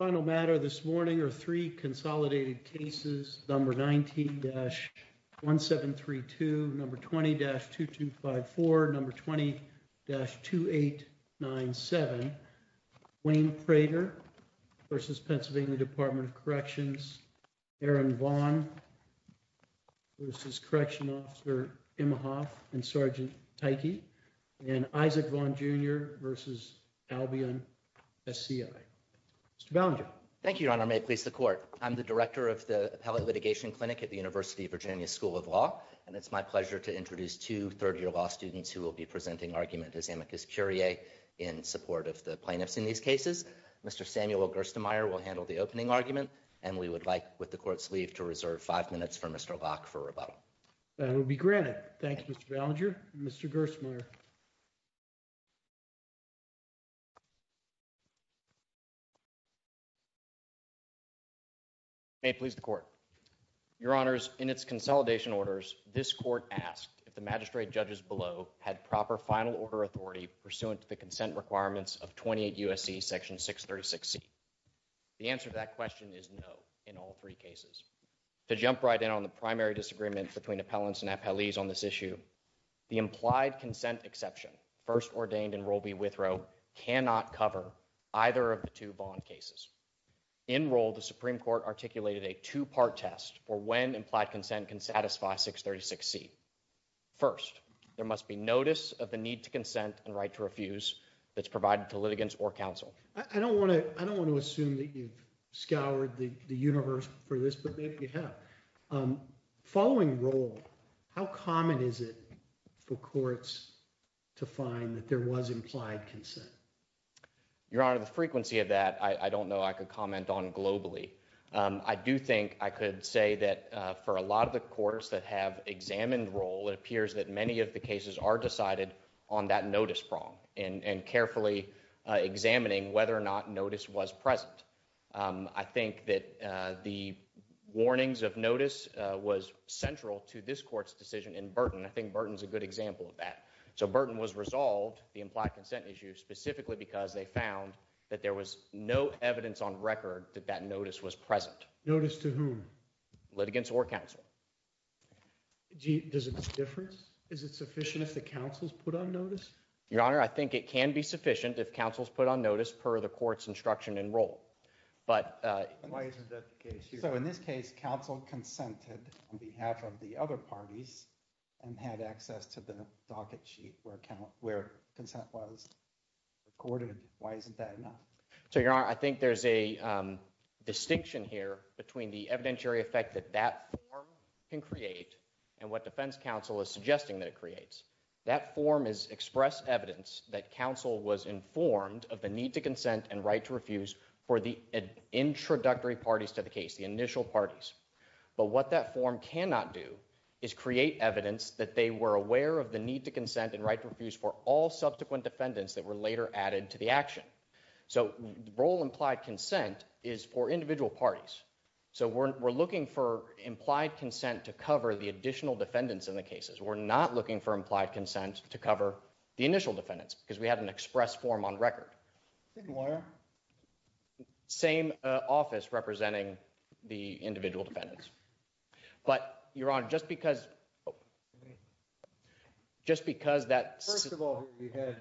Final matter this morning are three consolidated cases, number 19-1732, number 20-2254, number 20-2897, Wayne Prater v. PA Dept of Corrections, Aaron Vaughn v. Correction Officer Imhoff and Sgt. Tyke, and Isaac Vaughn Jr. v. Albion SCI. Mr. Ballinger. Thank you, Your Honor. May it please the Court. I'm the Director of the Appellate Litigation Clinic at the University of Virginia School of Law, and it's my pleasure to introduce two third-year law students who will be presenting argument as amicus curiae in support of the plaintiffs in these cases. Mr. Samuel Gerstenmaier will handle the opening argument, and we would like, with the Court's leave, to reserve five minutes for Mr. Locke for rebuttal. That will be granted. Thank you, Mr. Ballinger. Mr. Gerstenmaier. May it please the Court. Your Honors, in its consolidation orders, this Court asked if the magistrate judges below had proper final order authority pursuant to the consent requirements of 28 U.S.C. Section 636C. The answer to that question is no in all three cases. To jump right in on the primary disagreement between appellants and appellees on this issue, the implied consent exception first ordained in Rule B. Withrow cannot cover either of the two bond cases. In Rule, the Supreme Court articulated a two-part test for when implied consent can satisfy 636C. First, there must be notice of the need to consent and right to refuse that's provided to litigants or counsel. I don't want to assume that you've scoured the universe for this, but maybe you have. Following Rule, how common is it for courts to find that there was implied consent? Your Honor, the frequency of that I don't know I could comment on globally. I do think I could say that for a lot of the courts that have examined Rule, it appears that many of the cases are decided on that notice prong and carefully examining whether or not notice was present. I think that the warnings of notice was central to this court's decision in Burton. I think Burton's a good example of that. So Burton was resolved the implied consent issue specifically because they found that there was no evidence on record that that notice was present. Notice to whom? Litigants or counsel. Does it make a difference? Is it sufficient if the counsel's put on notice? Your Honor, I think it can be sufficient if counsel's put on notice per the court's instruction in Rule. So in this case, counsel consented on behalf of the other parties and had access to the docket sheet where consent was recorded. Why isn't that enough? So Your Honor, I think there's a distinction here between the evidentiary effect that that form can create and what Defense Counsel is suggesting that it creates. That form is express evidence that counsel was informed of a need to consent and right to refuse for the introductory parties to the case, the initial parties. But what that form cannot do is create evidence that they were aware of the need to consent and right to refuse for all subsequent defendants that were later added to the action. So Rule implied consent is for individual parties. So we're looking for implied consent to cover the additional defendants in the cases. We're not looking for implied consent to cover the initial on record. Same office representing the individual defendants. But Your Honor, just because just because that's. First of all, you had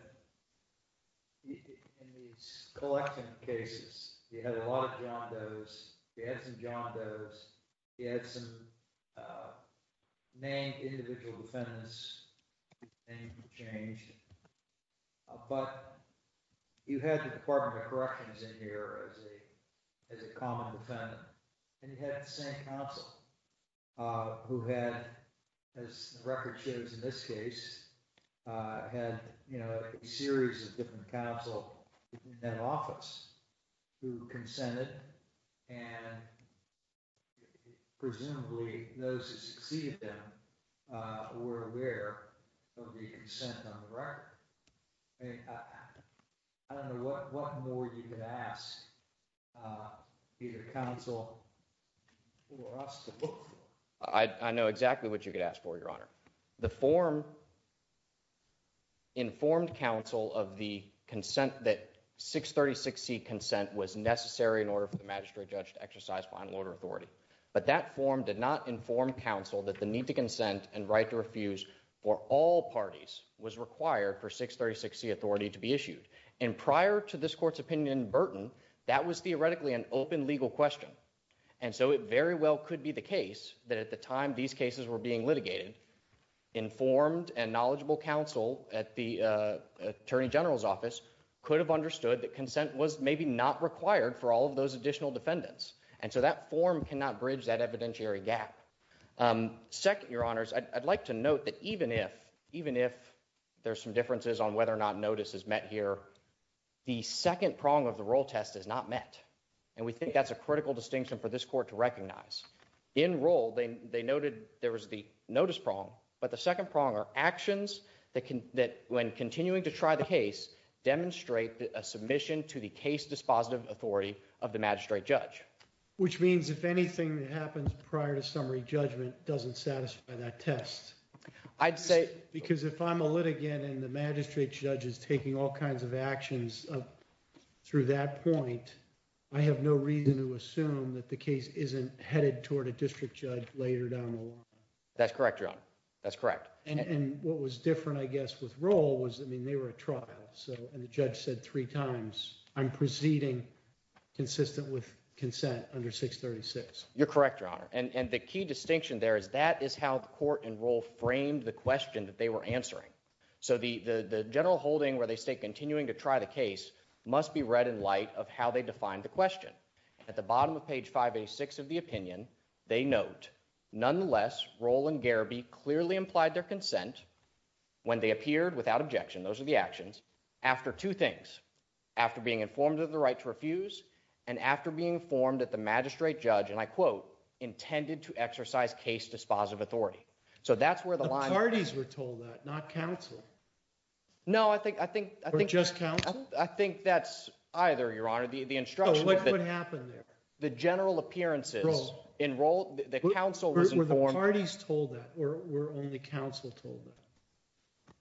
in these collection cases, you had a lot of John Doe's, you had some John Doe's, you had some named individual defendants changed. But you had the Department of Corrections in here as a common defendant. And you had the same counsel who had, as the record shows in this case, had a series of different counsel in that office who consented. And presumably those who succeeded them were aware of the consent on the record. I don't know what more you could ask either counsel or us to look for. I know exactly what you could ask for, Your Honor. The form informed counsel of the consent that 636C consent was necessary in order for the magistrate judge to exercise final order authority. That form did not inform counsel that the need to consent and right to refuse for all parties was required for 636C authority to be issued. And prior to this court's opinion in Burton, that was theoretically an open legal question. And so it very well could be the case that at the time these cases were being litigated, informed and knowledgeable counsel at the Attorney General's office could have understood that consent was maybe not required for all of those additional defendants. And so that form cannot bridge that evidentiary gap. Second, Your Honors, I'd like to note that even if there's some differences on whether or not notice is met here, the second prong of the roll test is not met. And we think that's a critical distinction for this court to recognize. In roll, they noted there was the notice prong, but the second prong are actions that when continuing to try the case demonstrate a submission to the case dispositive authority of the magistrate judge. Which means if anything happens prior to summary judgment doesn't satisfy that test. I'd say. Because if I'm a litigant and the magistrate judge is taking all kinds of actions through that point, I have no reason to assume that the case isn't headed toward a district judge later down the line. That's correct, Your Honor. That's correct. And what was different, I guess, with roll was, I mean, they were a trial. And the judge said three times, I'm proceeding consistent with consent under 636. You're correct, Your Honor. And the key distinction there is that is how the court in roll framed the question that they were answering. So the general holding where they stay continuing to try the case must be read in light of how they defined the question. At the bottom of page 586 of the opinion, they note, nonetheless, roll and Garaby clearly implied their consent when they appeared without objection. Those are the actions after two things. After being informed of the right to refuse and after being informed that the magistrate judge, and I quote, intended to exercise case dispositive authority. So that's where the parties were told that not counsel. No, I think I think I think just count. I think that's either, Your Honor, the instruction, what would happen there? The general appearances enroll the council where the parties told that were only counsel told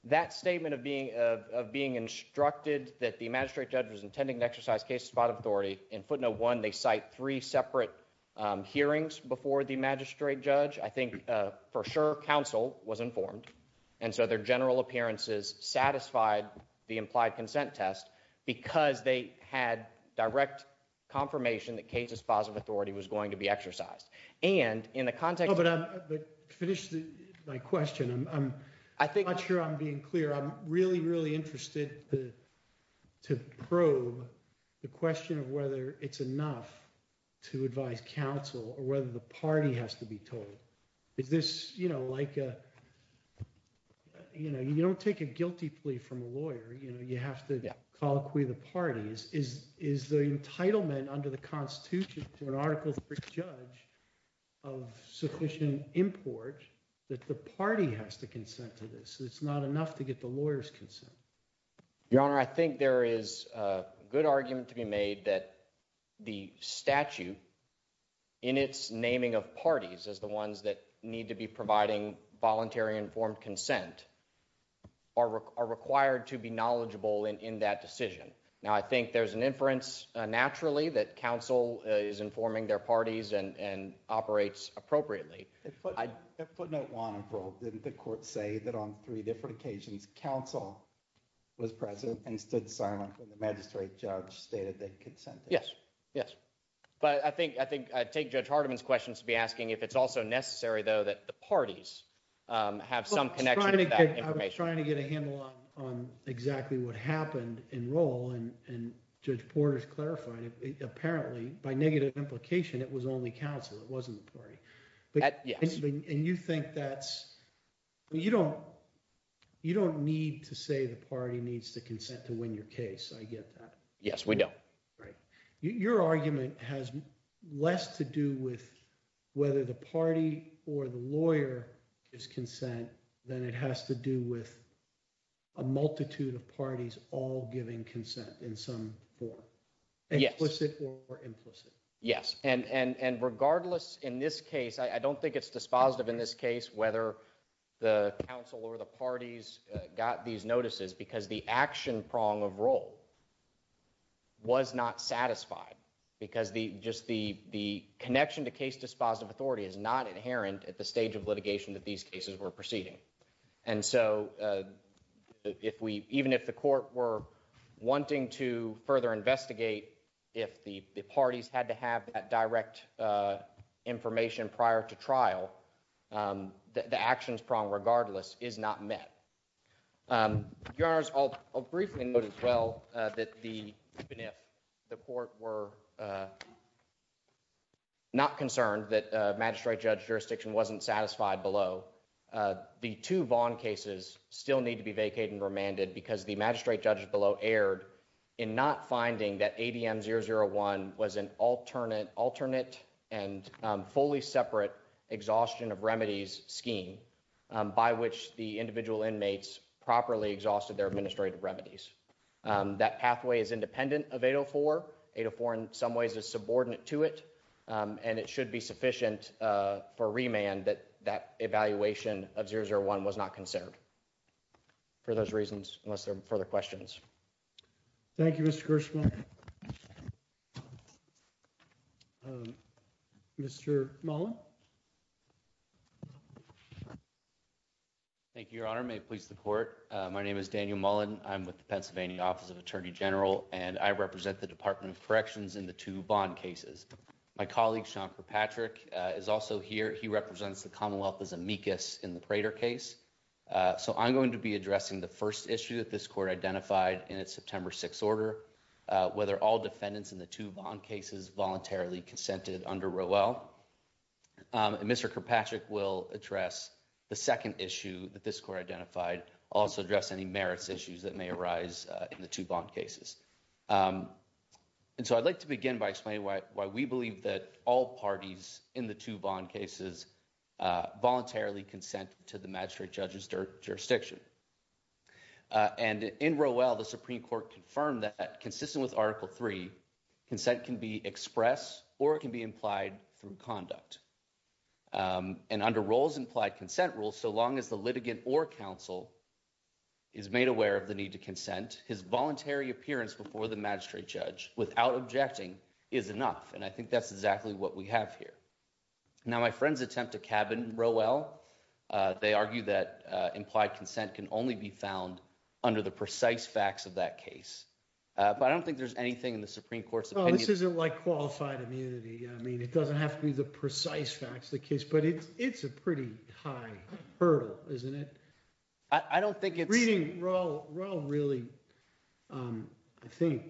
that statement of being of being instructed that the magistrate judge was intending to exercise case spot of authority in footnote one. They cite three separate hearings before the magistrate judge. I think for sure counsel was informed. And so their general appearances satisfied the implied consent test because they had direct confirmation that case dispositive authority was going to be exercised. And in the context of that, but finished my question, I'm not sure I'm being clear. I'm really, really interested to probe the question of whether it's enough to advise counsel or whether the party has to be told. Is this, you know, like, you know, you don't take a guilty plea from a lawyer. You know, you have to acquit the parties is is the entitlement under the Constitution to an article for a judge of sufficient import that the party has to consent to this. It's not enough to get the lawyers consent. Your Honor, I think there is a good argument to be made that the statute in its naming of parties as the ones that need to be providing voluntary informed consent are required to be knowledgeable in that decision. Now, I think there's an inference naturally that counsel is informing their parties and operates appropriately. At footnote one, didn't the court say that on three different occasions, counsel was present and stood silent when the magistrate judge stated that consent? Yes, yes. But I think I think I take Judge Hardiman's questions to be asking if it's also necessary, though, that the parties have some kind of trying to get a handle on on exactly what happened in role. And Judge Porter's clarifying it. Apparently, by negative implication, it was only counsel. It wasn't the party. And you think that's you don't you don't need to say the party needs to consent to win your case. I get that. Right. Your argument has less to do with whether the party or the lawyer is consent than it has to do with a multitude of parties all giving consent in some form. Yes. And regardless in this case, I don't think it's dispositive in this case whether the council or the parties got these notices because the action prong of role was not satisfied because the just the the connection to case dispositive authority is not inherent at the stage of litigation that these cases were proceeding. And so if we even if the court were wanting to further investigate, if the parties had to have that direct information prior to trial, the actions prong regardless is not met. I'll briefly note as well that even if the court were not concerned that magistrate judge jurisdiction wasn't satisfied below, the two Vaughn cases still need to be vacated and remanded because the magistrate judge below erred in not finding that ADM 001 was an alternate alternate and fully separate exhaustion of properly exhausted their administrative remedies. That pathway is independent of 804. 804 in some ways is subordinate to it, and it should be sufficient for remand that that evaluation of 001 was not considered for those reasons, unless there are further questions. Thank you, Your Honor. May it please the court. My name is Daniel Mullen. I'm with the Pennsylvania Office of Attorney General, and I represent the Department of Corrections in the two bond cases. My colleague, Sean Kirkpatrick, is also here. He represents the Commonwealth as amicus in the Prater case, so I'm going to be addressing the first issue that this court identified in its September 6 order, whether all defendants in the two bond cases voluntarily consented under Rowell. Mr. Kirkpatrick will address the second issue that this court identified, also address any merits issues that may arise in the two bond cases. I'd like to begin by explaining why we believe that all parties in the two bond cases voluntarily consent to the magistrate judge's jurisdiction. In Rowell, the Supreme Court confirmed that consistent with Article III, consent can be expressed or it can be implied through conduct. And under Rowell's implied consent rule, so long as the litigant or counsel is made aware of the need to consent, his voluntary appearance before the magistrate judge without objecting is enough, and I think that's exactly what we have here. Now, my friends attempt to cabin Rowell. They argue that implied consent can only be found under the precise facts of that case, but I don't think there's anything in the Supreme Court's opinion. This isn't like qualified immunity. I mean, it doesn't have to be the precise facts of the case, but it's a pretty high hurdle, isn't it? I don't think it's... Reading Rowell really, I think,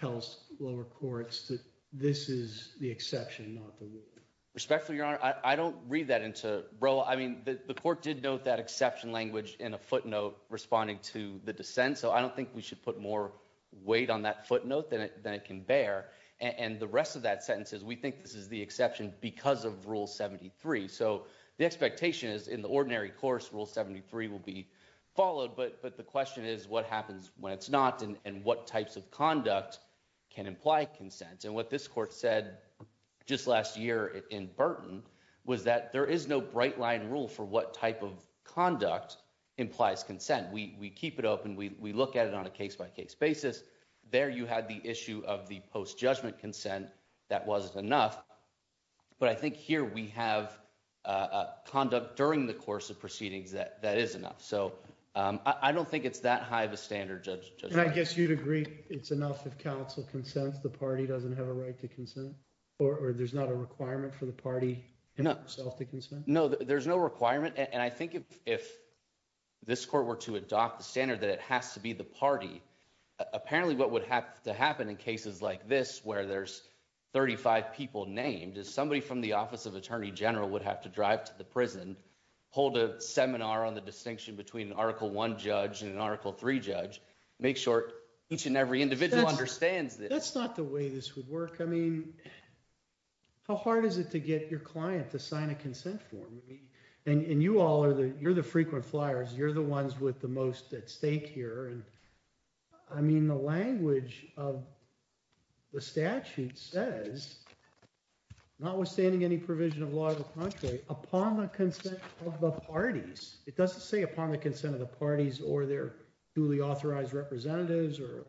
tells lower courts that this is the exception, not the rule. Respectfully, Your Honor, I don't read that into Rowell. I mean, the court did note that exception in a footnote responding to the dissent, so I don't think we should put more weight on that footnote than it can bear. And the rest of that sentence is, we think this is the exception because of Rule 73. So the expectation is in the ordinary course, Rule 73 will be followed, but the question is what happens when it's not and what types of conduct can imply consent. And what this court said just last year in Burton was that there is no bright line rule for what conduct implies consent. We keep it open. We look at it on a case-by-case basis. There you had the issue of the post-judgment consent. That wasn't enough. But I think here we have conduct during the course of proceedings that is enough. So I don't think it's that high of a standard, Judge. And I guess you'd agree it's enough if counsel consents, the party doesn't have a right to consent, or there's not a requirement for the party itself to consent? No, there's no requirement. I think if this court were to adopt the standard that it has to be the party, apparently what would have to happen in cases like this where there's 35 people named is somebody from the Office of Attorney General would have to drive to the prison, hold a seminar on the distinction between an Article I judge and an Article III judge, make sure each and every individual understands that. That's not the way this would work. I mean, how hard is it to get your client to sign a consent form? I mean, and you all are the, you're the frequent flyers. You're the ones with the most at stake here. And I mean, the language of the statute says, notwithstanding any provision of law of the country, upon the consent of the parties, it doesn't say upon the consent of the parties or their duly authorized representatives or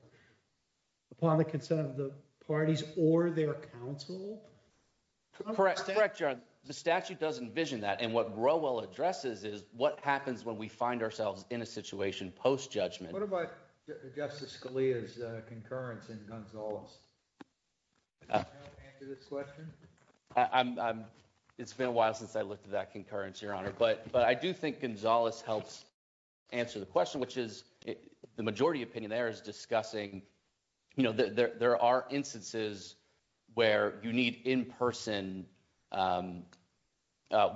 upon the consent of the parties or their counsel. Correct. Correct, Your Honor. The statute does envision that. And what Growell addresses is what happens when we find ourselves in a situation post-judgment. What about Justice Scalia's concurrence in Gonzales? It's been a while since I looked at that concurrence, Your Honor. But I do think Gonzales helps answer the question, which is, the majority opinion there is discussing, you know, there are instances where you need in-person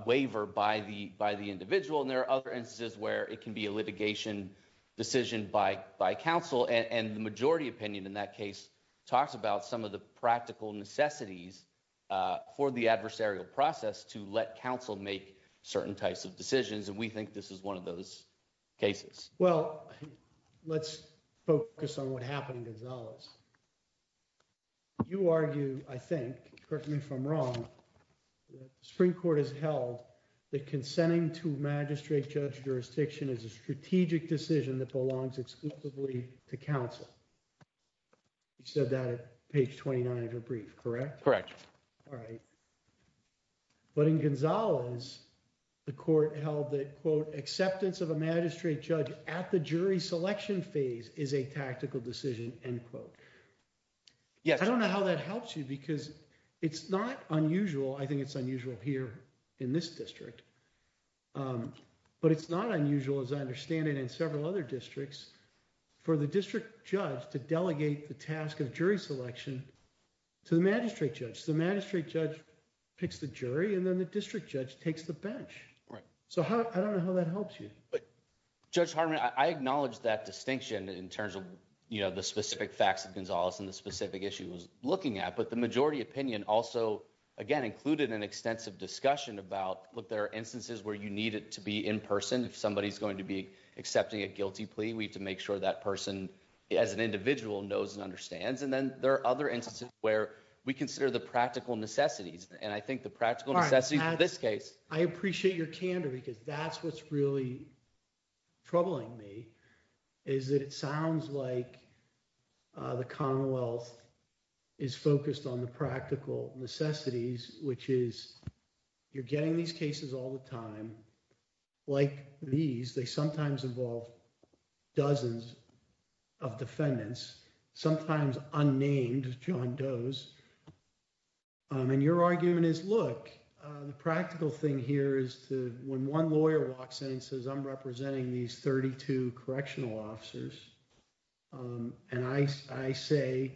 waiver by the individual, and there are other instances where it can be a litigation decision by counsel. And the majority opinion in that case talks about some of the practical necessities for the adversarial process to let counsel make certain types of decisions, and we think this is one of those cases. Well, let's focus on what happened in Gonzales. You argue, I think, correct me if I'm wrong, that the Supreme Court has held that consenting to magistrate-judge jurisdiction is a strategic decision that belongs exclusively to counsel. You said that at page 29 of your brief, correct? Correct. All right. But in Gonzales, the Court held that, quote, acceptance of a magistrate judge at the jury selection phase is a tactical decision, end quote. Yes. I don't know how that helps you, because it's not unusual, I think it's unusual here in this district, but it's not unusual, as I understand it, in several other districts, for the district judge to delegate the task of jury selection to the magistrate judge. The magistrate judge picks the jury, and then the district judge takes the bench. Right. So I don't know how that helps you. Judge Hardman, I acknowledge that distinction in terms of, you know, the specific facts of Gonzales and the specific issue it was looking at, but the majority opinion also, again, included an extensive discussion about, look, there are instances where you need it to be in person. If somebody's going to be accepting a guilty plea, we have to make sure that person, as an individual, knows and understands. And then there are other instances where we consider the practical necessities, and I think the practical necessities in this case. All right. I appreciate your candor, because that's what's really troubling me, is that it sounds like the Commonwealth is focused on the practical necessities, which is you're getting these cases all the time, like these, they sometimes involve dozens of defendants, sometimes unnamed John Does. And your argument is, look, the practical thing here is to, when one lawyer walks in and says, I'm representing these 32 correctional officers, and I say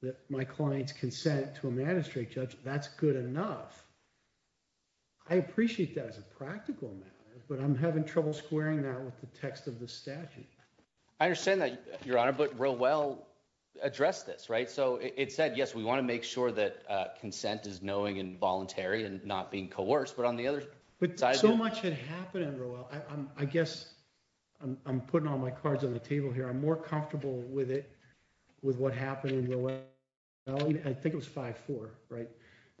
that my client's consent to a magistrate judge, that's good enough. I appreciate that as a practical matter, but I'm having trouble squaring that with the text of the I understand that, Your Honor, but Rowell addressed this, right? So it said, yes, we want to make sure that consent is knowing and voluntary and not being coerced, but on the other But so much had happened in Rowell. I guess I'm putting all my cards on the table here. I'm more comfortable with it, with what happened in Rowell. I think it was 5-4, right?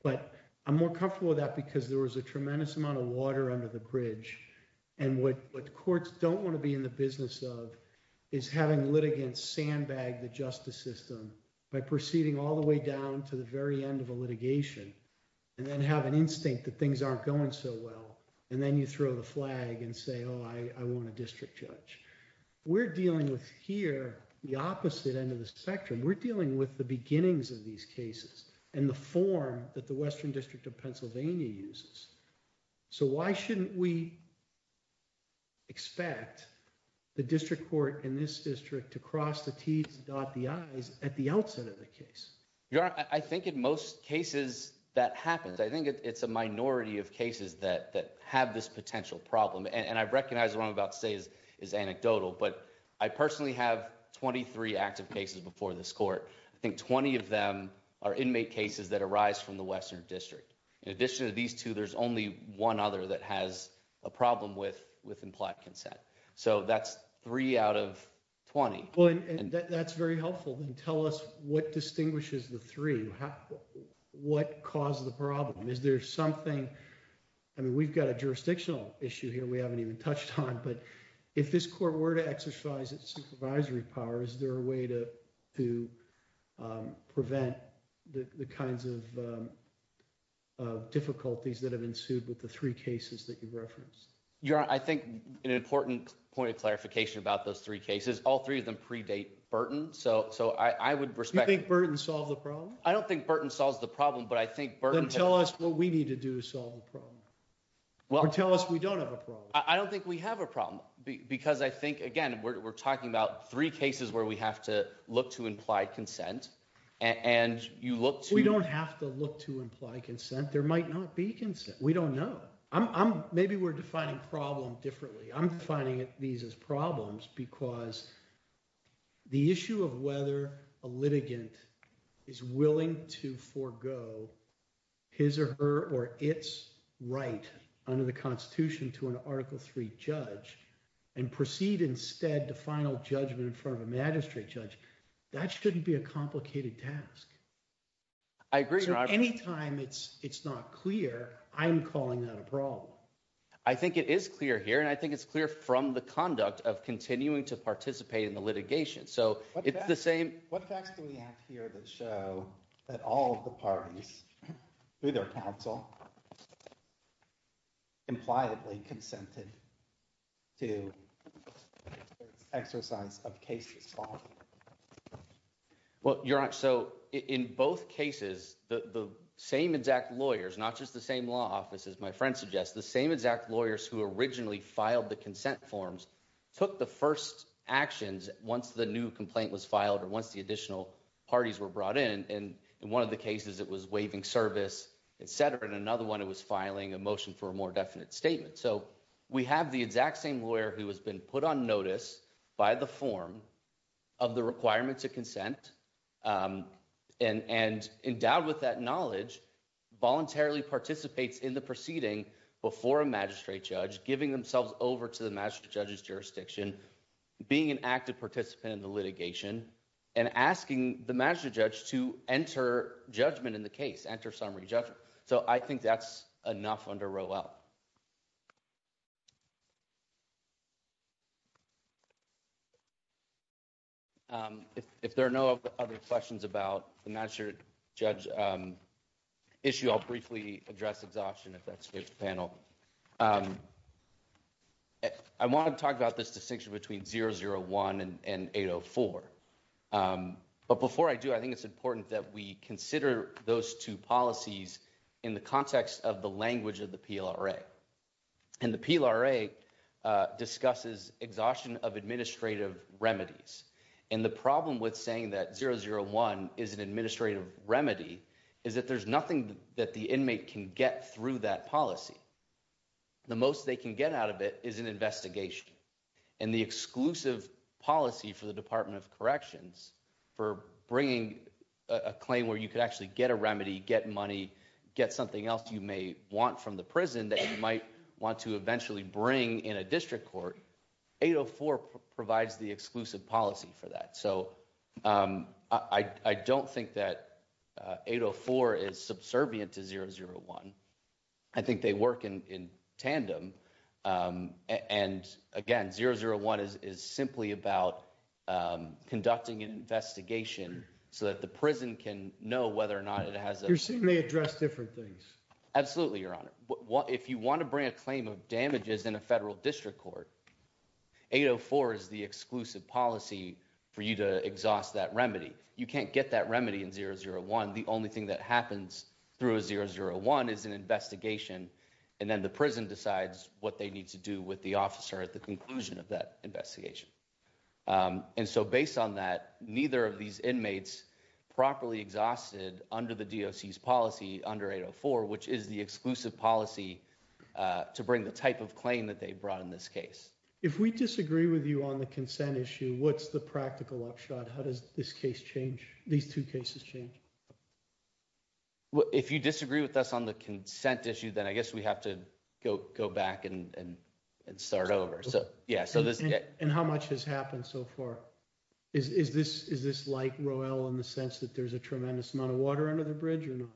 But I'm more comfortable with that because there was a tremendous amount of water under the bridge. And what courts don't want to be in the business of is having litigants sandbag the justice system by proceeding all the way down to the very end of a litigation, and then have an instinct that things aren't going so well. And then you throw the flag and say, oh, I want a district judge. We're dealing with here, the opposite end of the spectrum. We're dealing with the beginnings of these cases and the form that the Western District of Pennsylvania uses. So why shouldn't we expect the district court in this district to cross the T's and dot the I's at the outset of the case? Your Honor, I think in most cases that happens, I think it's a minority of cases that have this potential problem. And I recognize what I'm about to say is anecdotal, but I personally have 23 active cases before this court. I think 20 of them are inmate cases that arise from the Western District. In addition to these two, there's only one other that has a problem with implied consent. So that's three out of 20. Well, and that's very helpful. Then tell us what distinguishes the three. What caused the problem? Is there something, I mean, we've got a jurisdictional issue here we to prevent the kinds of difficulties that have ensued with the three cases that you've referenced? Your Honor, I think an important point of clarification about those three cases, all three of them predate Burton. So I would respect... You think Burton solved the problem? I don't think Burton solves the problem, but I think Burton... Then tell us what we need to do to solve the problem. Or tell us we don't have a problem. I don't think we have a problem because I think, again, we're talking about three cases where we have to look to implied consent and you look to... We don't have to look to implied consent. There might not be consent. We don't know. Maybe we're defining problem differently. I'm defining these as problems because the issue of whether a litigant is willing to forgo his or her or its right under the final judgment in front of a magistrate judge, that shouldn't be a complicated task. I agree, Your Honor. Anytime it's not clear, I'm calling that a problem. I think it is clear here and I think it's clear from the conduct of continuing to participate in the litigation. So it's the same... What facts do we have here that show that all of the parties, through their counsel, impliedly consented to the exercise of case law? Well, Your Honor, so in both cases, the same exact lawyers, not just the same law office, as my friend suggests, the same exact lawyers who originally filed the consent forms took the first actions once the new complaint was filed or once the additional parties were brought in. In one of the cases, it was waiving service, etc. In another one, it was filing a motion for a more definite statement. So we have the exact same lawyer who has been put on notice by the form of the requirement to consent and endowed with that knowledge, voluntarily participates in the proceeding before a magistrate judge, giving themselves over to the magistrate judge's jurisdiction, being an active participant in the litigation, and asking the magistrate judge to enter judgment in the case, enter summary judgment. So I think that's enough under Rowell. If there are no other questions about the magistrate judge issue, I'll briefly address exhaustion if that's okay with the panel. I wanted to talk about this distinction between 001 and 804. But before I do, I think it's important that we consider those two policies in the context of the language of the PLRA. And the PLRA discusses exhaustion of administrative remedies. And the problem with saying that 001 is an administrative remedy is that there's nothing that the inmate can get through that policy. The most they can get out of it is an investigation. And the exclusive policy for the Department of Corrections for bringing a claim where you could actually get a remedy, get money, get something else you may want from the prison that you might want to eventually bring in a district court, 804 provides the exclusive policy for that. So I don't think that 804 is subservient to 001. I think they work in tandem. And again, 001 is simply about conducting an investigation so that the prison can know whether or not it has a... Your suit may address different things. Absolutely, Your Honor. If you want to bring a claim of damages in a federal district court, 804 is the exclusive policy for you to exhaust that remedy. You can't get that remedy in 001. The only thing that happens through a 001 is an investigation. And then the prison decides what they need to do with the officer at the conclusion of that investigation. And so based on that, neither of these inmates properly exhausted under the DOC's policy under 804, which is the exclusive policy to bring the type of claim that they brought in this case. If we disagree with you on the consent issue, what's the practical upshot? How does this case change? These two cases change. If you disagree with us on the consent issue, then I guess we have to go back and start over. And how much has happened so far? Is this like Roelle in the sense that there's a tremendous amount of water under the bridge or no?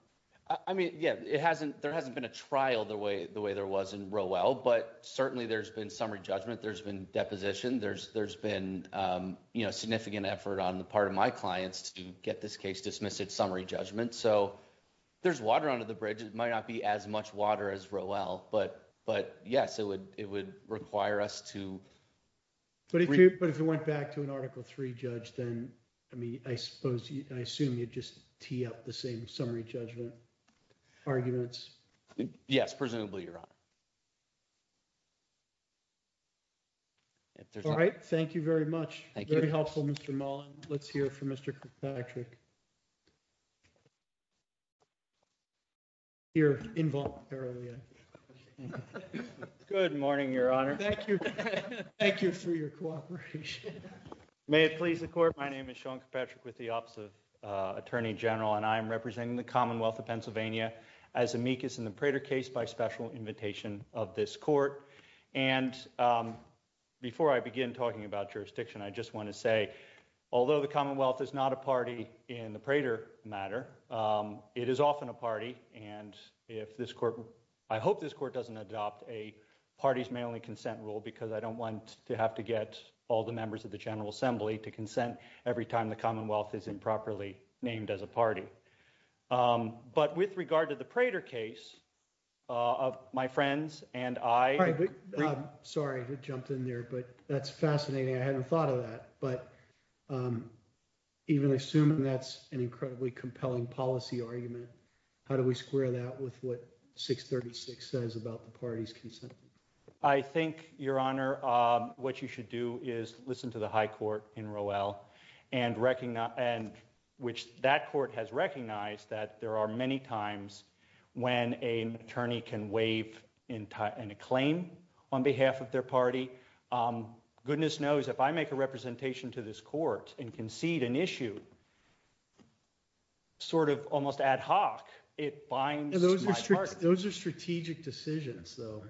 I mean, yeah, there hasn't been a trial the way there was in Roelle, but certainly there's been summary judgment. There's been deposition. There's been significant effort on the part of my clients to get this case dismissed at summary judgment. So there's water under the bridge. It might not be as much water as Roelle, but yes, it would require us to... But if it went back to an Article III judge, then, I mean, yes, presumably, Your Honor. All right. Thank you very much. Very helpful, Mr. Mullen. Let's hear from Mr. Kirkpatrick. Good morning, Your Honor. Thank you. Thank you for your cooperation. May it please the court. My name is Sean Kirkpatrick with the Office of Attorney General, and I am representing the Prater case by special invitation of this court. And before I begin talking about jurisdiction, I just want to say, although the Commonwealth is not a party in the Prater matter, it is often a party. And if this court... I hope this court doesn't adopt a parties may only consent rule, because I don't want to have to get all the members of the General Assembly to consent every time the Commonwealth is improperly named as a party. But with regard to the Prater case, of my friends and I... Sorry to jump in there, but that's fascinating. I hadn't thought of that. But even assuming that's an incredibly compelling policy argument, how do we square that with what 636 says about the parties consent? I think, Your Honor, what you should do is listen to the high court in Roelle, and which that court has recognized that there are many times when an attorney can waive an acclaim on behalf of their party. Goodness knows, if I make a representation to this court and concede an issue, sort of almost ad hoc, it binds my party. Those are strategic decisions, though.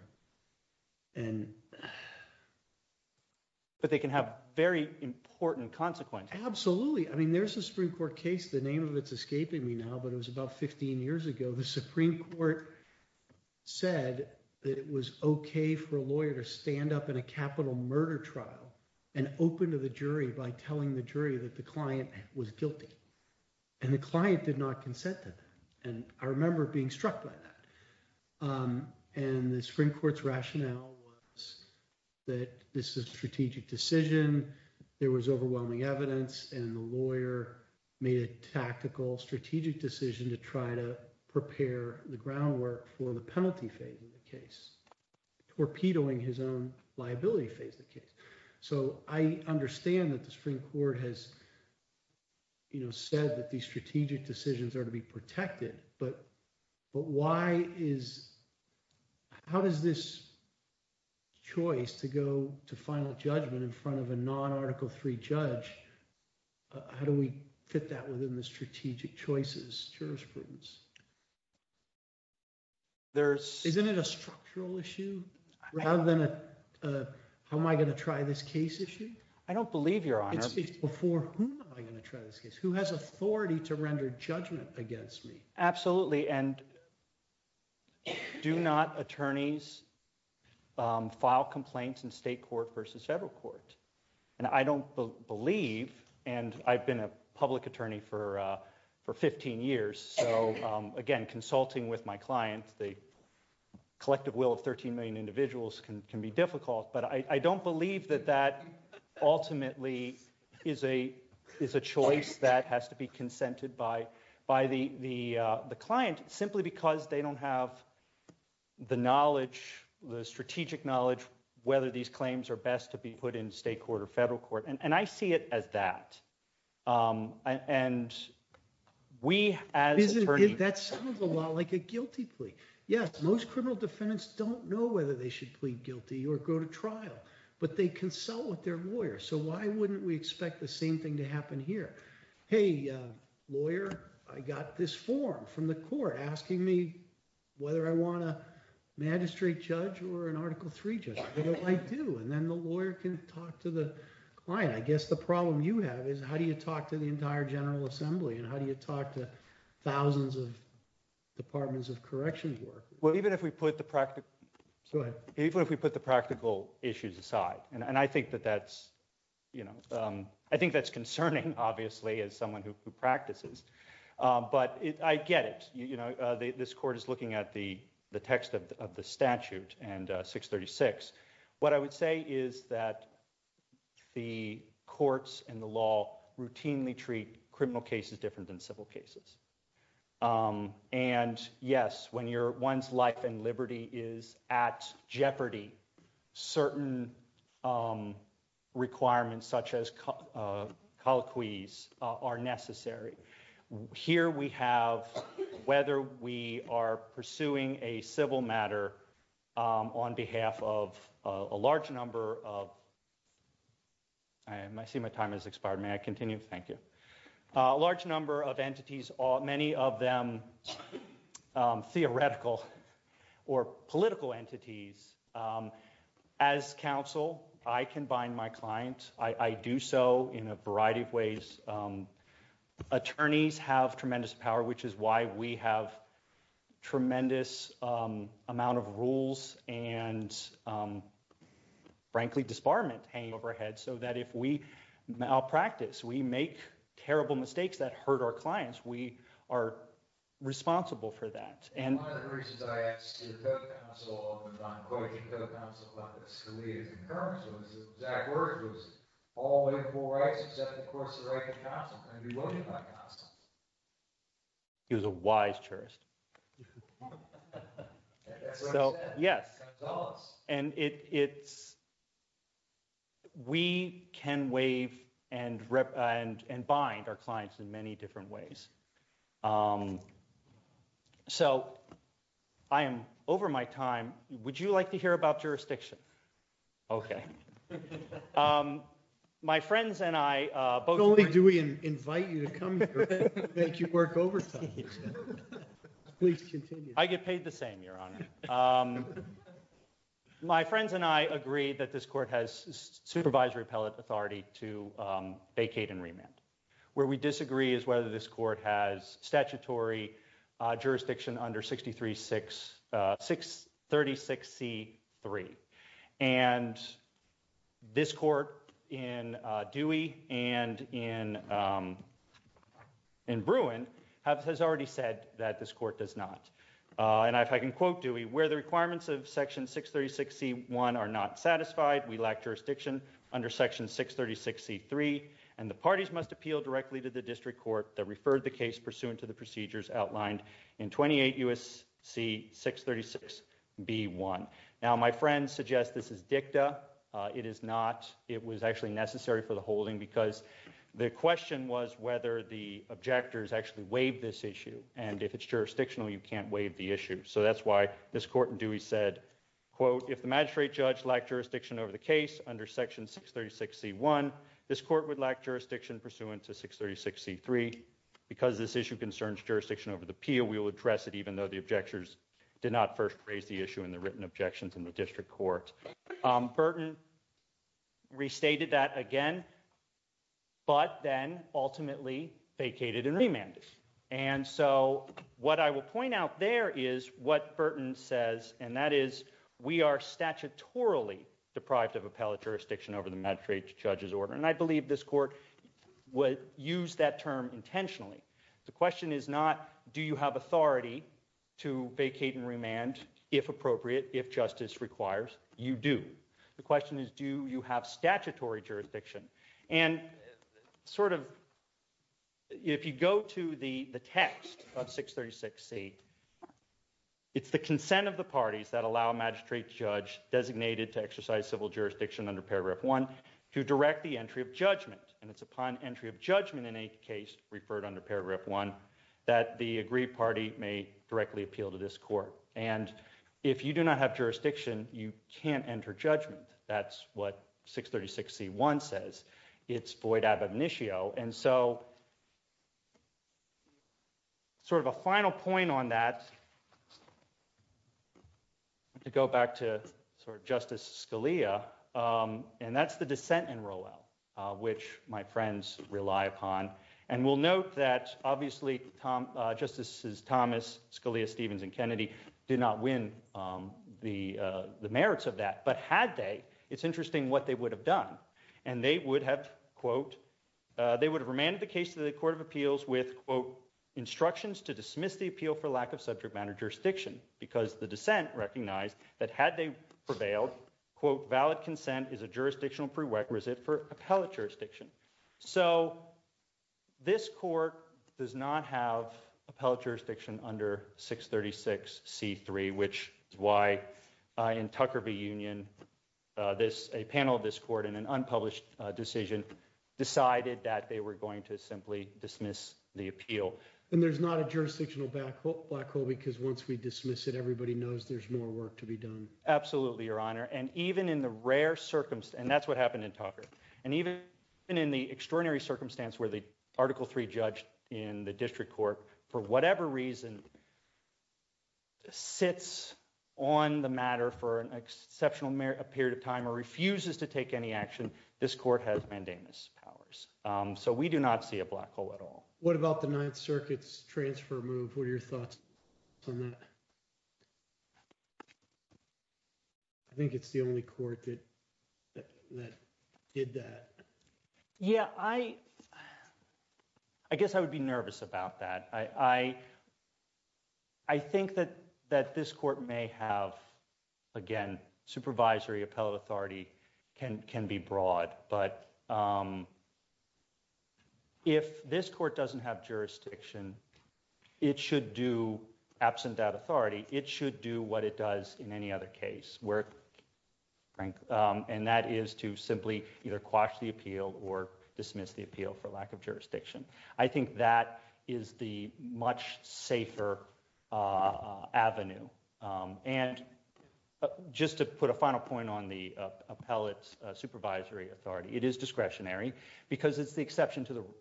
But they can have very important consequences. Absolutely. I mean, there's a Supreme Court case, the name of it's escaping me now, but it was about 15 years ago. The Supreme Court said that it was okay for a lawyer to stand up in a capital murder trial and open to the jury by telling the jury that the client was guilty. And the client did not consent to that. And I Supreme Court's rationale was that this is a strategic decision. There was overwhelming evidence. And the lawyer made a tactical strategic decision to try to prepare the groundwork for the penalty phase of the case, torpedoing his own liability phase of the case. So I understand that the Supreme Court has said that these strategic decisions are to be protected. But how does this choice to go to final judgment in front of a non-Article III judge, how do we fit that within the strategic choices jurisprudence? Isn't it a structural issue rather than a how am I going to try this case issue? I don't believe, Your Honor. It's before whom am I going to try this case? Who has authority to and do not attorneys file complaints in state court versus federal court. And I don't believe, and I've been a public attorney for 15 years. So again, consulting with my clients, the collective will of 13 million individuals can be difficult, but I don't believe that that the client simply because they don't have the knowledge, the strategic knowledge, whether these claims are best to be put in state court or federal court. And I see it as that. And we as attorneys. That sounds a lot like a guilty plea. Yes, most criminal defendants don't know whether they should plead guilty or go to trial, but they consult with their lawyer. So the court asking me whether I want a magistrate judge or an Article III judge, what do I do? And then the lawyer can talk to the client. I guess the problem you have is how do you talk to the entire General Assembly and how do you talk to thousands of departments of corrections work? Well, even if we put the practical issues aside, and I think that that's concerning, obviously, as someone who practices, but I get it. This court is looking at the text of the statute and 636. What I would say is that the courts and the law routinely treat criminal cases different than civil cases. And yes, when your one's life and liberty is at jeopardy, certain requirements such as colloquies are necessary. Here we have whether we are pursuing a civil matter on behalf of a large number of. I see my time has expired. May I continue? Thank you. A large number of entities, many of them theoretical or political entities. As counsel, I can bind my client. I do so in a variety of ways. Attorneys have tremendous power, which is why we have tremendous amount of rules and, frankly, disbarment hanging over our heads so that if we malpractice, we make terrible mistakes that one of the reasons I asked your co-counsel about this for me is the exact words was all in full rights, except, of course, the right to counsel. I'm going to be willing to buy counsel. He was a wise jurist. So, yes, and it's. We can waive and and bind our clients in many different ways. So I am over my time. Would you like to hear about jurisdiction? OK, my friends and I both only do we invite you to come make you work overtime. Please continue. I get paid the same, your honor. Um, my friends and I agree that this court has supervisory appellate authority to vacate and remand where we disagree is whether this court has statutory jurisdiction under sixty three six six thirty sixty three. And this court in Dewey and in in Bruin has already said that this court does not. And if I can quote Dewey, where the requirements of Section six thirty sixty one are not satisfied, we lack jurisdiction under Section six thirty sixty three and the parties must appeal directly to the district court that referred the case pursuant to the procedures outlined in twenty eight U.S.C. six thirty six B1. Now, my friends suggest this is dicta. It is not. It was actually necessary for the holding because the question was whether the objectors actually waived this issue. And if it's jurisdictional, you can't waive the issue. So that's why this court and Dewey said, quote, if the magistrate judge like jurisdiction over the case under Section six thirty sixty one, this court would lack jurisdiction pursuant to six thirty sixty three because this issue concerns jurisdiction over the appeal. We will address it even though the objectors did not first raise the issue in the written objections in the district court. Burton. Restated that again. But then ultimately vacated and remanded. And so what I will point out there is what Burton says, and that is we are statutorily deprived of appellate jurisdiction over the magistrate judge's order. And I believe this court would use that term intentionally. The question is not do you have authority to vacate and remand, if appropriate, if justice requires you do. The question is, do you have statutory jurisdiction? And sort of. If you go to the text of six thirty six, it's the consent of the parties that allow a magistrate judge designated to exercise civil jurisdiction under paragraph one to direct the entry of judgment. And it's upon entry of judgment in a case referred under paragraph one that the agreed party may directly appeal to this court. And if you do not have jurisdiction, you can't enter judgment. That's what six thirty sixty one says. It's void of initio. And so. Sort of a final point on that. To go back to sort of Justice Scalia and that's the dissent in Roel, which my friends rely upon. And we'll note that obviously, justices Thomas, Scalia, Stevens and Kennedy did not win the merits of that. But had they, it's interesting what they would have done. And they would have, quote, they would have remanded the case to the Court of Appeals with, quote, instructions to jurisdiction because the dissent recognized that had they prevailed, quote, valid consent is a jurisdictional prerequisite for appellate jurisdiction. So this court does not have appellate jurisdiction under six thirty six C3, which is why in Tucker Union, this a panel of this court in an unpublished decision decided that they were going to simply dismiss the appeal. And there's not a jurisdictional black hole because once we dismiss it, everybody knows there's more work to be done. Absolutely, Your Honor. And even in the rare circumstance, and that's what happened in Tucker and even in the extraordinary circumstance where the Article three judge in the district court, for whatever reason. Sits on the matter for an exceptional period of time or refuses to take any action. This court has mandamus powers, so we do not see a black hole at all. What about the Ninth Circuit's transfer move? What are your thoughts on that? I think it's the only court that did that. Yeah, I guess I would be nervous about that. I think that that this court may have, again, supervisory appellate authority can be broad, but um. If this court doesn't have jurisdiction, it should do absent that authority, it should do what it does in any other case where. And that is to simply either quash the appeal or dismiss the appeal for lack of jurisdiction. I think that is the much safer avenue. And just to put a final point on the appellate supervisory authority, it is discretionary because it's the exception to the rule.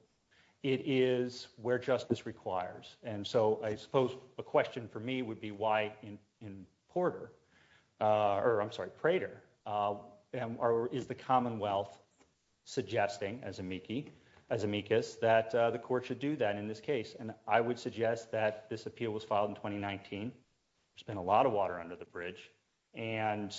It is where justice requires, and so I suppose a question for me would be why in Porter or I'm sorry, Prater or is the Commonwealth suggesting as amici as amicus that the court should do that in this case. And I would suggest that this appeal was filed in 2019. There's been a lot of water under the bridge and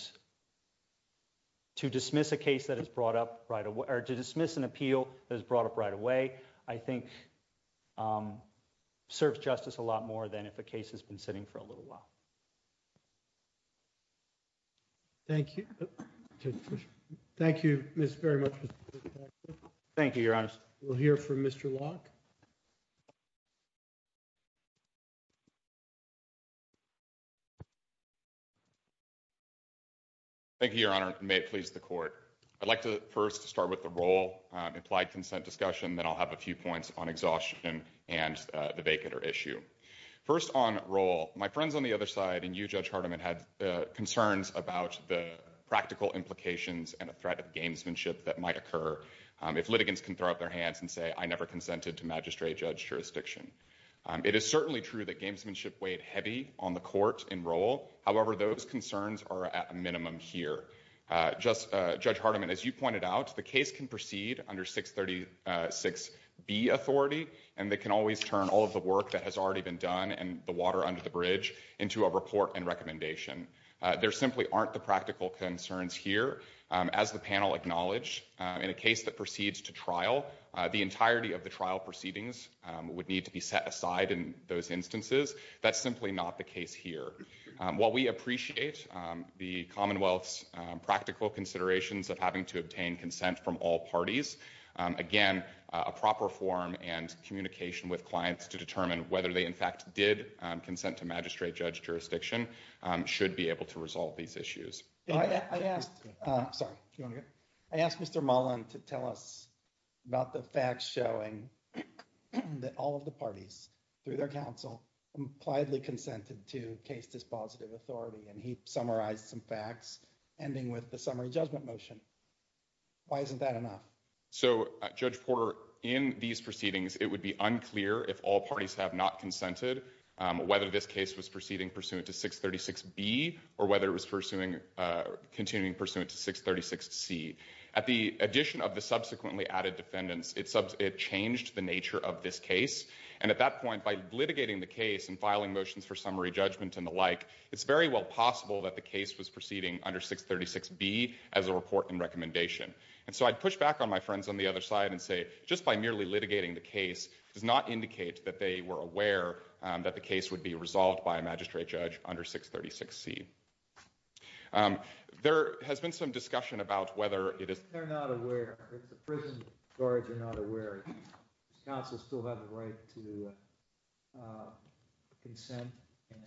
to dismiss a case that is brought up right away or to dismiss an appeal that is brought up right away, I think serves justice a lot more than if a case has been sitting for a little while. Thank you. Thank you, Miss, very much. Thank you, Your Honor. We'll hear from Mr. Locke. Thank you, Your Honor. May it please the court. I'd like to first start with the role implied consent discussion, then I'll have a few points on exhaustion and the vacater issue. First on role, my friends on the other side and you, Judge Hardiman, had concerns about the practical implications and a threat of gamesmanship that might occur if litigants can throw up their hands and say, I never consented to magistrate judge jurisdiction. It is certainly true that the court in role, however, those concerns are at a minimum here. Judge Hardiman, as you pointed out, the case can proceed under 636B authority and they can always turn all of the work that has already been done and the water under the bridge into a report and recommendation. There simply aren't the practical concerns here. As the panel acknowledged, in a case that proceeds to trial, the entirety of the trial proceedings would need to be set aside in those instances. That's simply not the case here. While we appreciate the Commonwealth's practical considerations of having to obtain consent from all parties, again, a proper form and communication with clients to determine whether they in fact did consent to magistrate judge jurisdiction should be able to resolve these issues. I asked Mr. Mullen to tell us about the facts showing that all of the parties through their counsel impliedly consented to case dispositive authority and he summarized some facts ending with the summary judgment motion. Why isn't that enough? So, Judge Porter, in these proceedings, it would be unclear if all parties have not consented, whether this case was proceeding pursuant to 636B or whether it was pursuing continuing pursuant to 636C. At the addition of the subsequently added defendants, it changed the nature of this case. And at that point, by litigating the case and filing motions for summary judgment and the like, it's very well possible that the case was proceeding under 636B as a report and recommendation. And so I'd push back on my friends on the other side and say just by merely litigating the case does not indicate that they were aware that the case would be resolved by a magistrate judge under 636C. There has been some discussion about whether it is... If they're not aware, if the prison guards are not aware, does counsel still have the right to consent and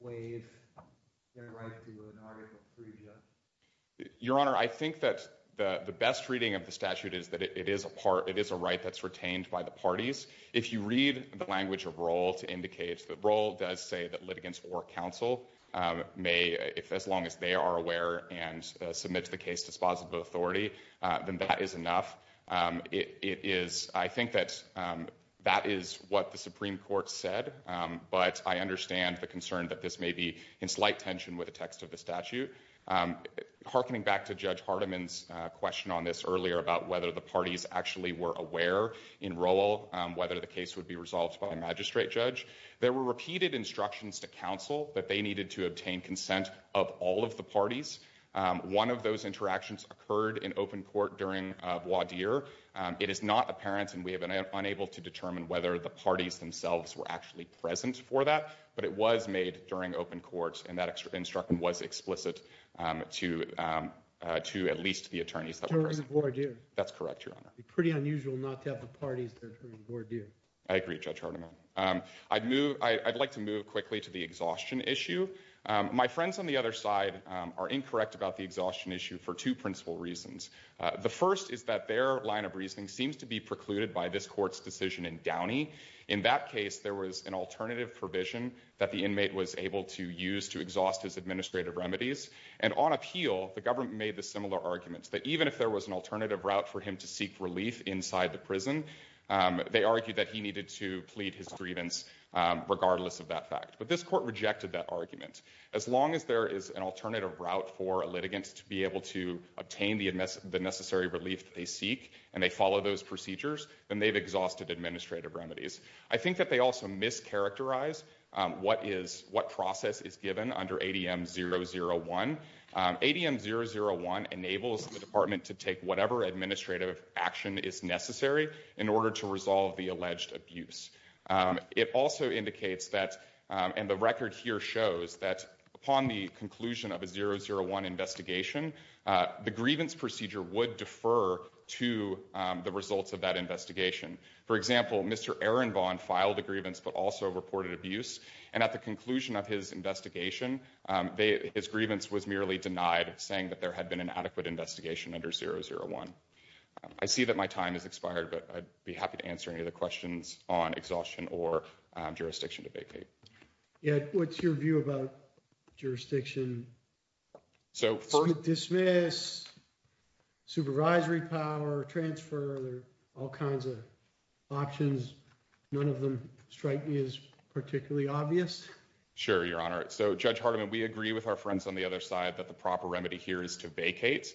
waive their right to an article of prejudice? Your Honor, I think that the best reading of the statute is that it is a part, it is a right that's litigants or counsel may, as long as they are aware and submit to the case dispositive authority, then that is enough. It is, I think that that is what the Supreme Court said, but I understand the concern that this may be in slight tension with the text of the statute. Harkening back to Judge Hardiman's question on this earlier about whether the parties actually were aware in roll whether the case would be resolved by a magistrate judge, there were repeated instructions to counsel that they needed to obtain consent of all of the parties. One of those interactions occurred in open court during voir dire. It is not apparent and we have been unable to determine whether the parties themselves were actually present for that, but it was made during open courts and that instruction was explicit to at least the attorneys that were present. That's correct, Your Honor. Pretty unusual not to have the parties that were due. I agree, Judge Hardiman. I'd move, I'd like to move quickly to the exhaustion issue. My friends on the other side are incorrect about the exhaustion issue for two principal reasons. The first is that their line of reasoning seems to be precluded by this court's decision in Downey. In that case, there was an alternative provision that the inmate was able to use to exhaust his administrative remedies and on appeal, the alternative route for him to seek relief inside the prison. They argued that he needed to plead his grievance regardless of that fact, but this court rejected that argument. As long as there is an alternative route for a litigant to be able to obtain the necessary relief that they seek and they follow those procedures, then they've exhausted administrative remedies. I think that they also mischaracterize what process is given under ADM 001. ADM 001 enables the department to take whatever administrative action is necessary in order to resolve the alleged abuse. It also indicates that, and the record here shows, that upon the conclusion of a 001 investigation, the grievance procedure would defer to the results of that investigation. For example, Mr. Ehrenbahn filed a grievance but also reported abuse, and at the conclusion of his investigation, his grievance was merely denied, saying that there had been an adequate investigation under 001. I see that my time has expired, but I'd be happy to answer any of the questions on exhaustion or jurisdiction to vacate. Yeah, what's your view about jurisdiction? So dismiss, supervisory power, transfer, there are all kinds of options. None of them is particularly obvious. Sure, your honor. So Judge Hardiman, we agree with our friends on the other side that the proper remedy here is to vacate.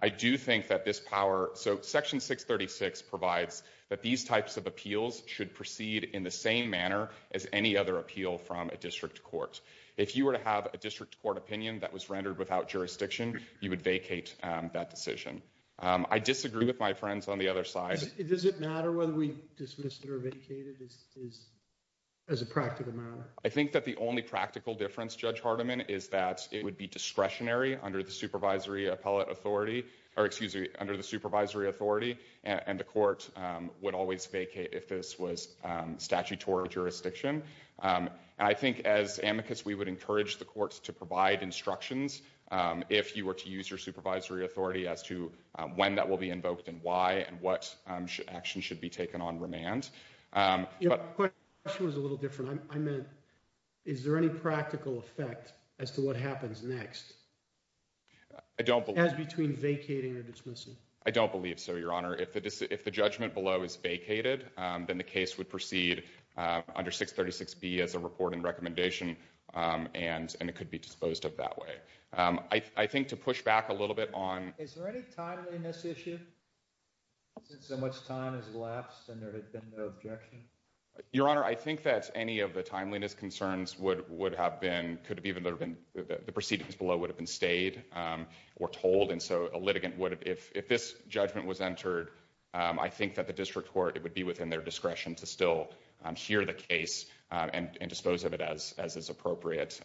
I do think that this power, so section 636 provides that these types of appeals should proceed in the same manner as any other appeal from a district court. If you were to have a district court opinion that was rendered without jurisdiction, you would vacate that decision. I disagree with my friends on the other side. Does it matter whether we dismiss it or vacate it as a practical matter? I think that the only practical difference, Judge Hardiman, is that it would be discretionary under the supervisory appellate authority, or excuse me, under the supervisory authority, and the court would always vacate if this was statutory jurisdiction. I think as amicus, we would encourage the courts to provide instructions if you were to use your supervisory authority as to when that will be invoked and why and what action should be taken on remand. The question was a little different. I meant, is there any practical effect as to what happens next? As between vacating or dismissing? I don't believe so, your honor. If the judgment below is vacated, then the case would proceed under 636B as a reporting recommendation, and it could be disposed of that way. I think to push back a little bit on... Is there any timeliness issue, since so much time has elapsed and there has been no objection? Your honor, I think that any of the timeliness concerns would have been... The proceedings below would have been stayed or told, and so a litigant would... If this judgment was entered, I think that the district court, it would be within their discretion to still hear the case and dispose of it as is appropriate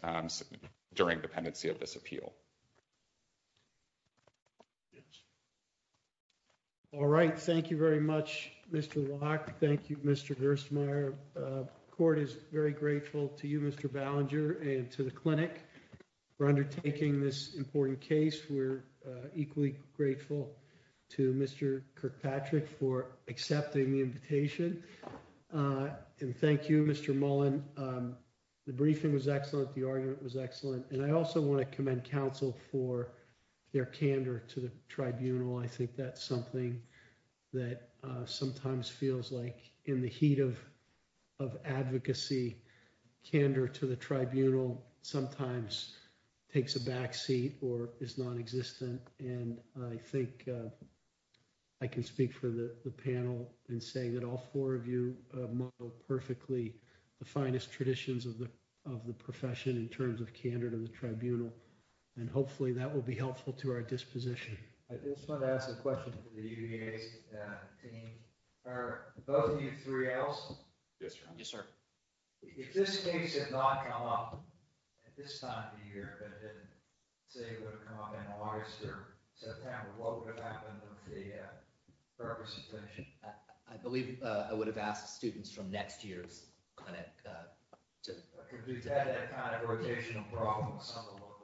during dependency of this appeal. Yes. All right. Thank you very much, Mr. Locke. Thank you, Mr. Gerstmeier. Court is very grateful to you, Mr. Ballinger, and to the clinic for undertaking this important case. We're equally grateful to Mr. Kirkpatrick for accepting the invitation. And thank you, Mr. Mullen. The briefing was excellent. The argument was excellent. And I also want to commend counsel for their candor to the tribunal. I think that's something that sometimes feels like in the heat of advocacy, candor to the tribunal sometimes takes a backseat or is non-existent. And I think I can speak for the panel in saying that all four of you have modeled perfectly the finest traditions of the profession in terms of candor to the disposition. I just want to ask a question to the UVA team. Are both of you 3Ls? Yes, sir. Yes, sir. If this case had not come up at this time of year, but if it, say, would have come up in August or September, what would have happened with the purpose of finishing? I believe I would have asked students from next year's clinic to... We've had that kind of rotational problem with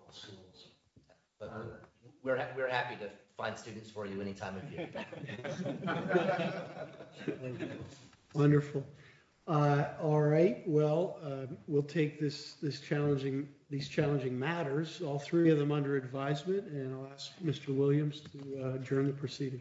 schools. But we're happy to find students for you anytime. Wonderful. All right. Well, we'll take these challenging matters, all three of them under advisement, and I'll ask Mr. Williams to adjourn the proceeding.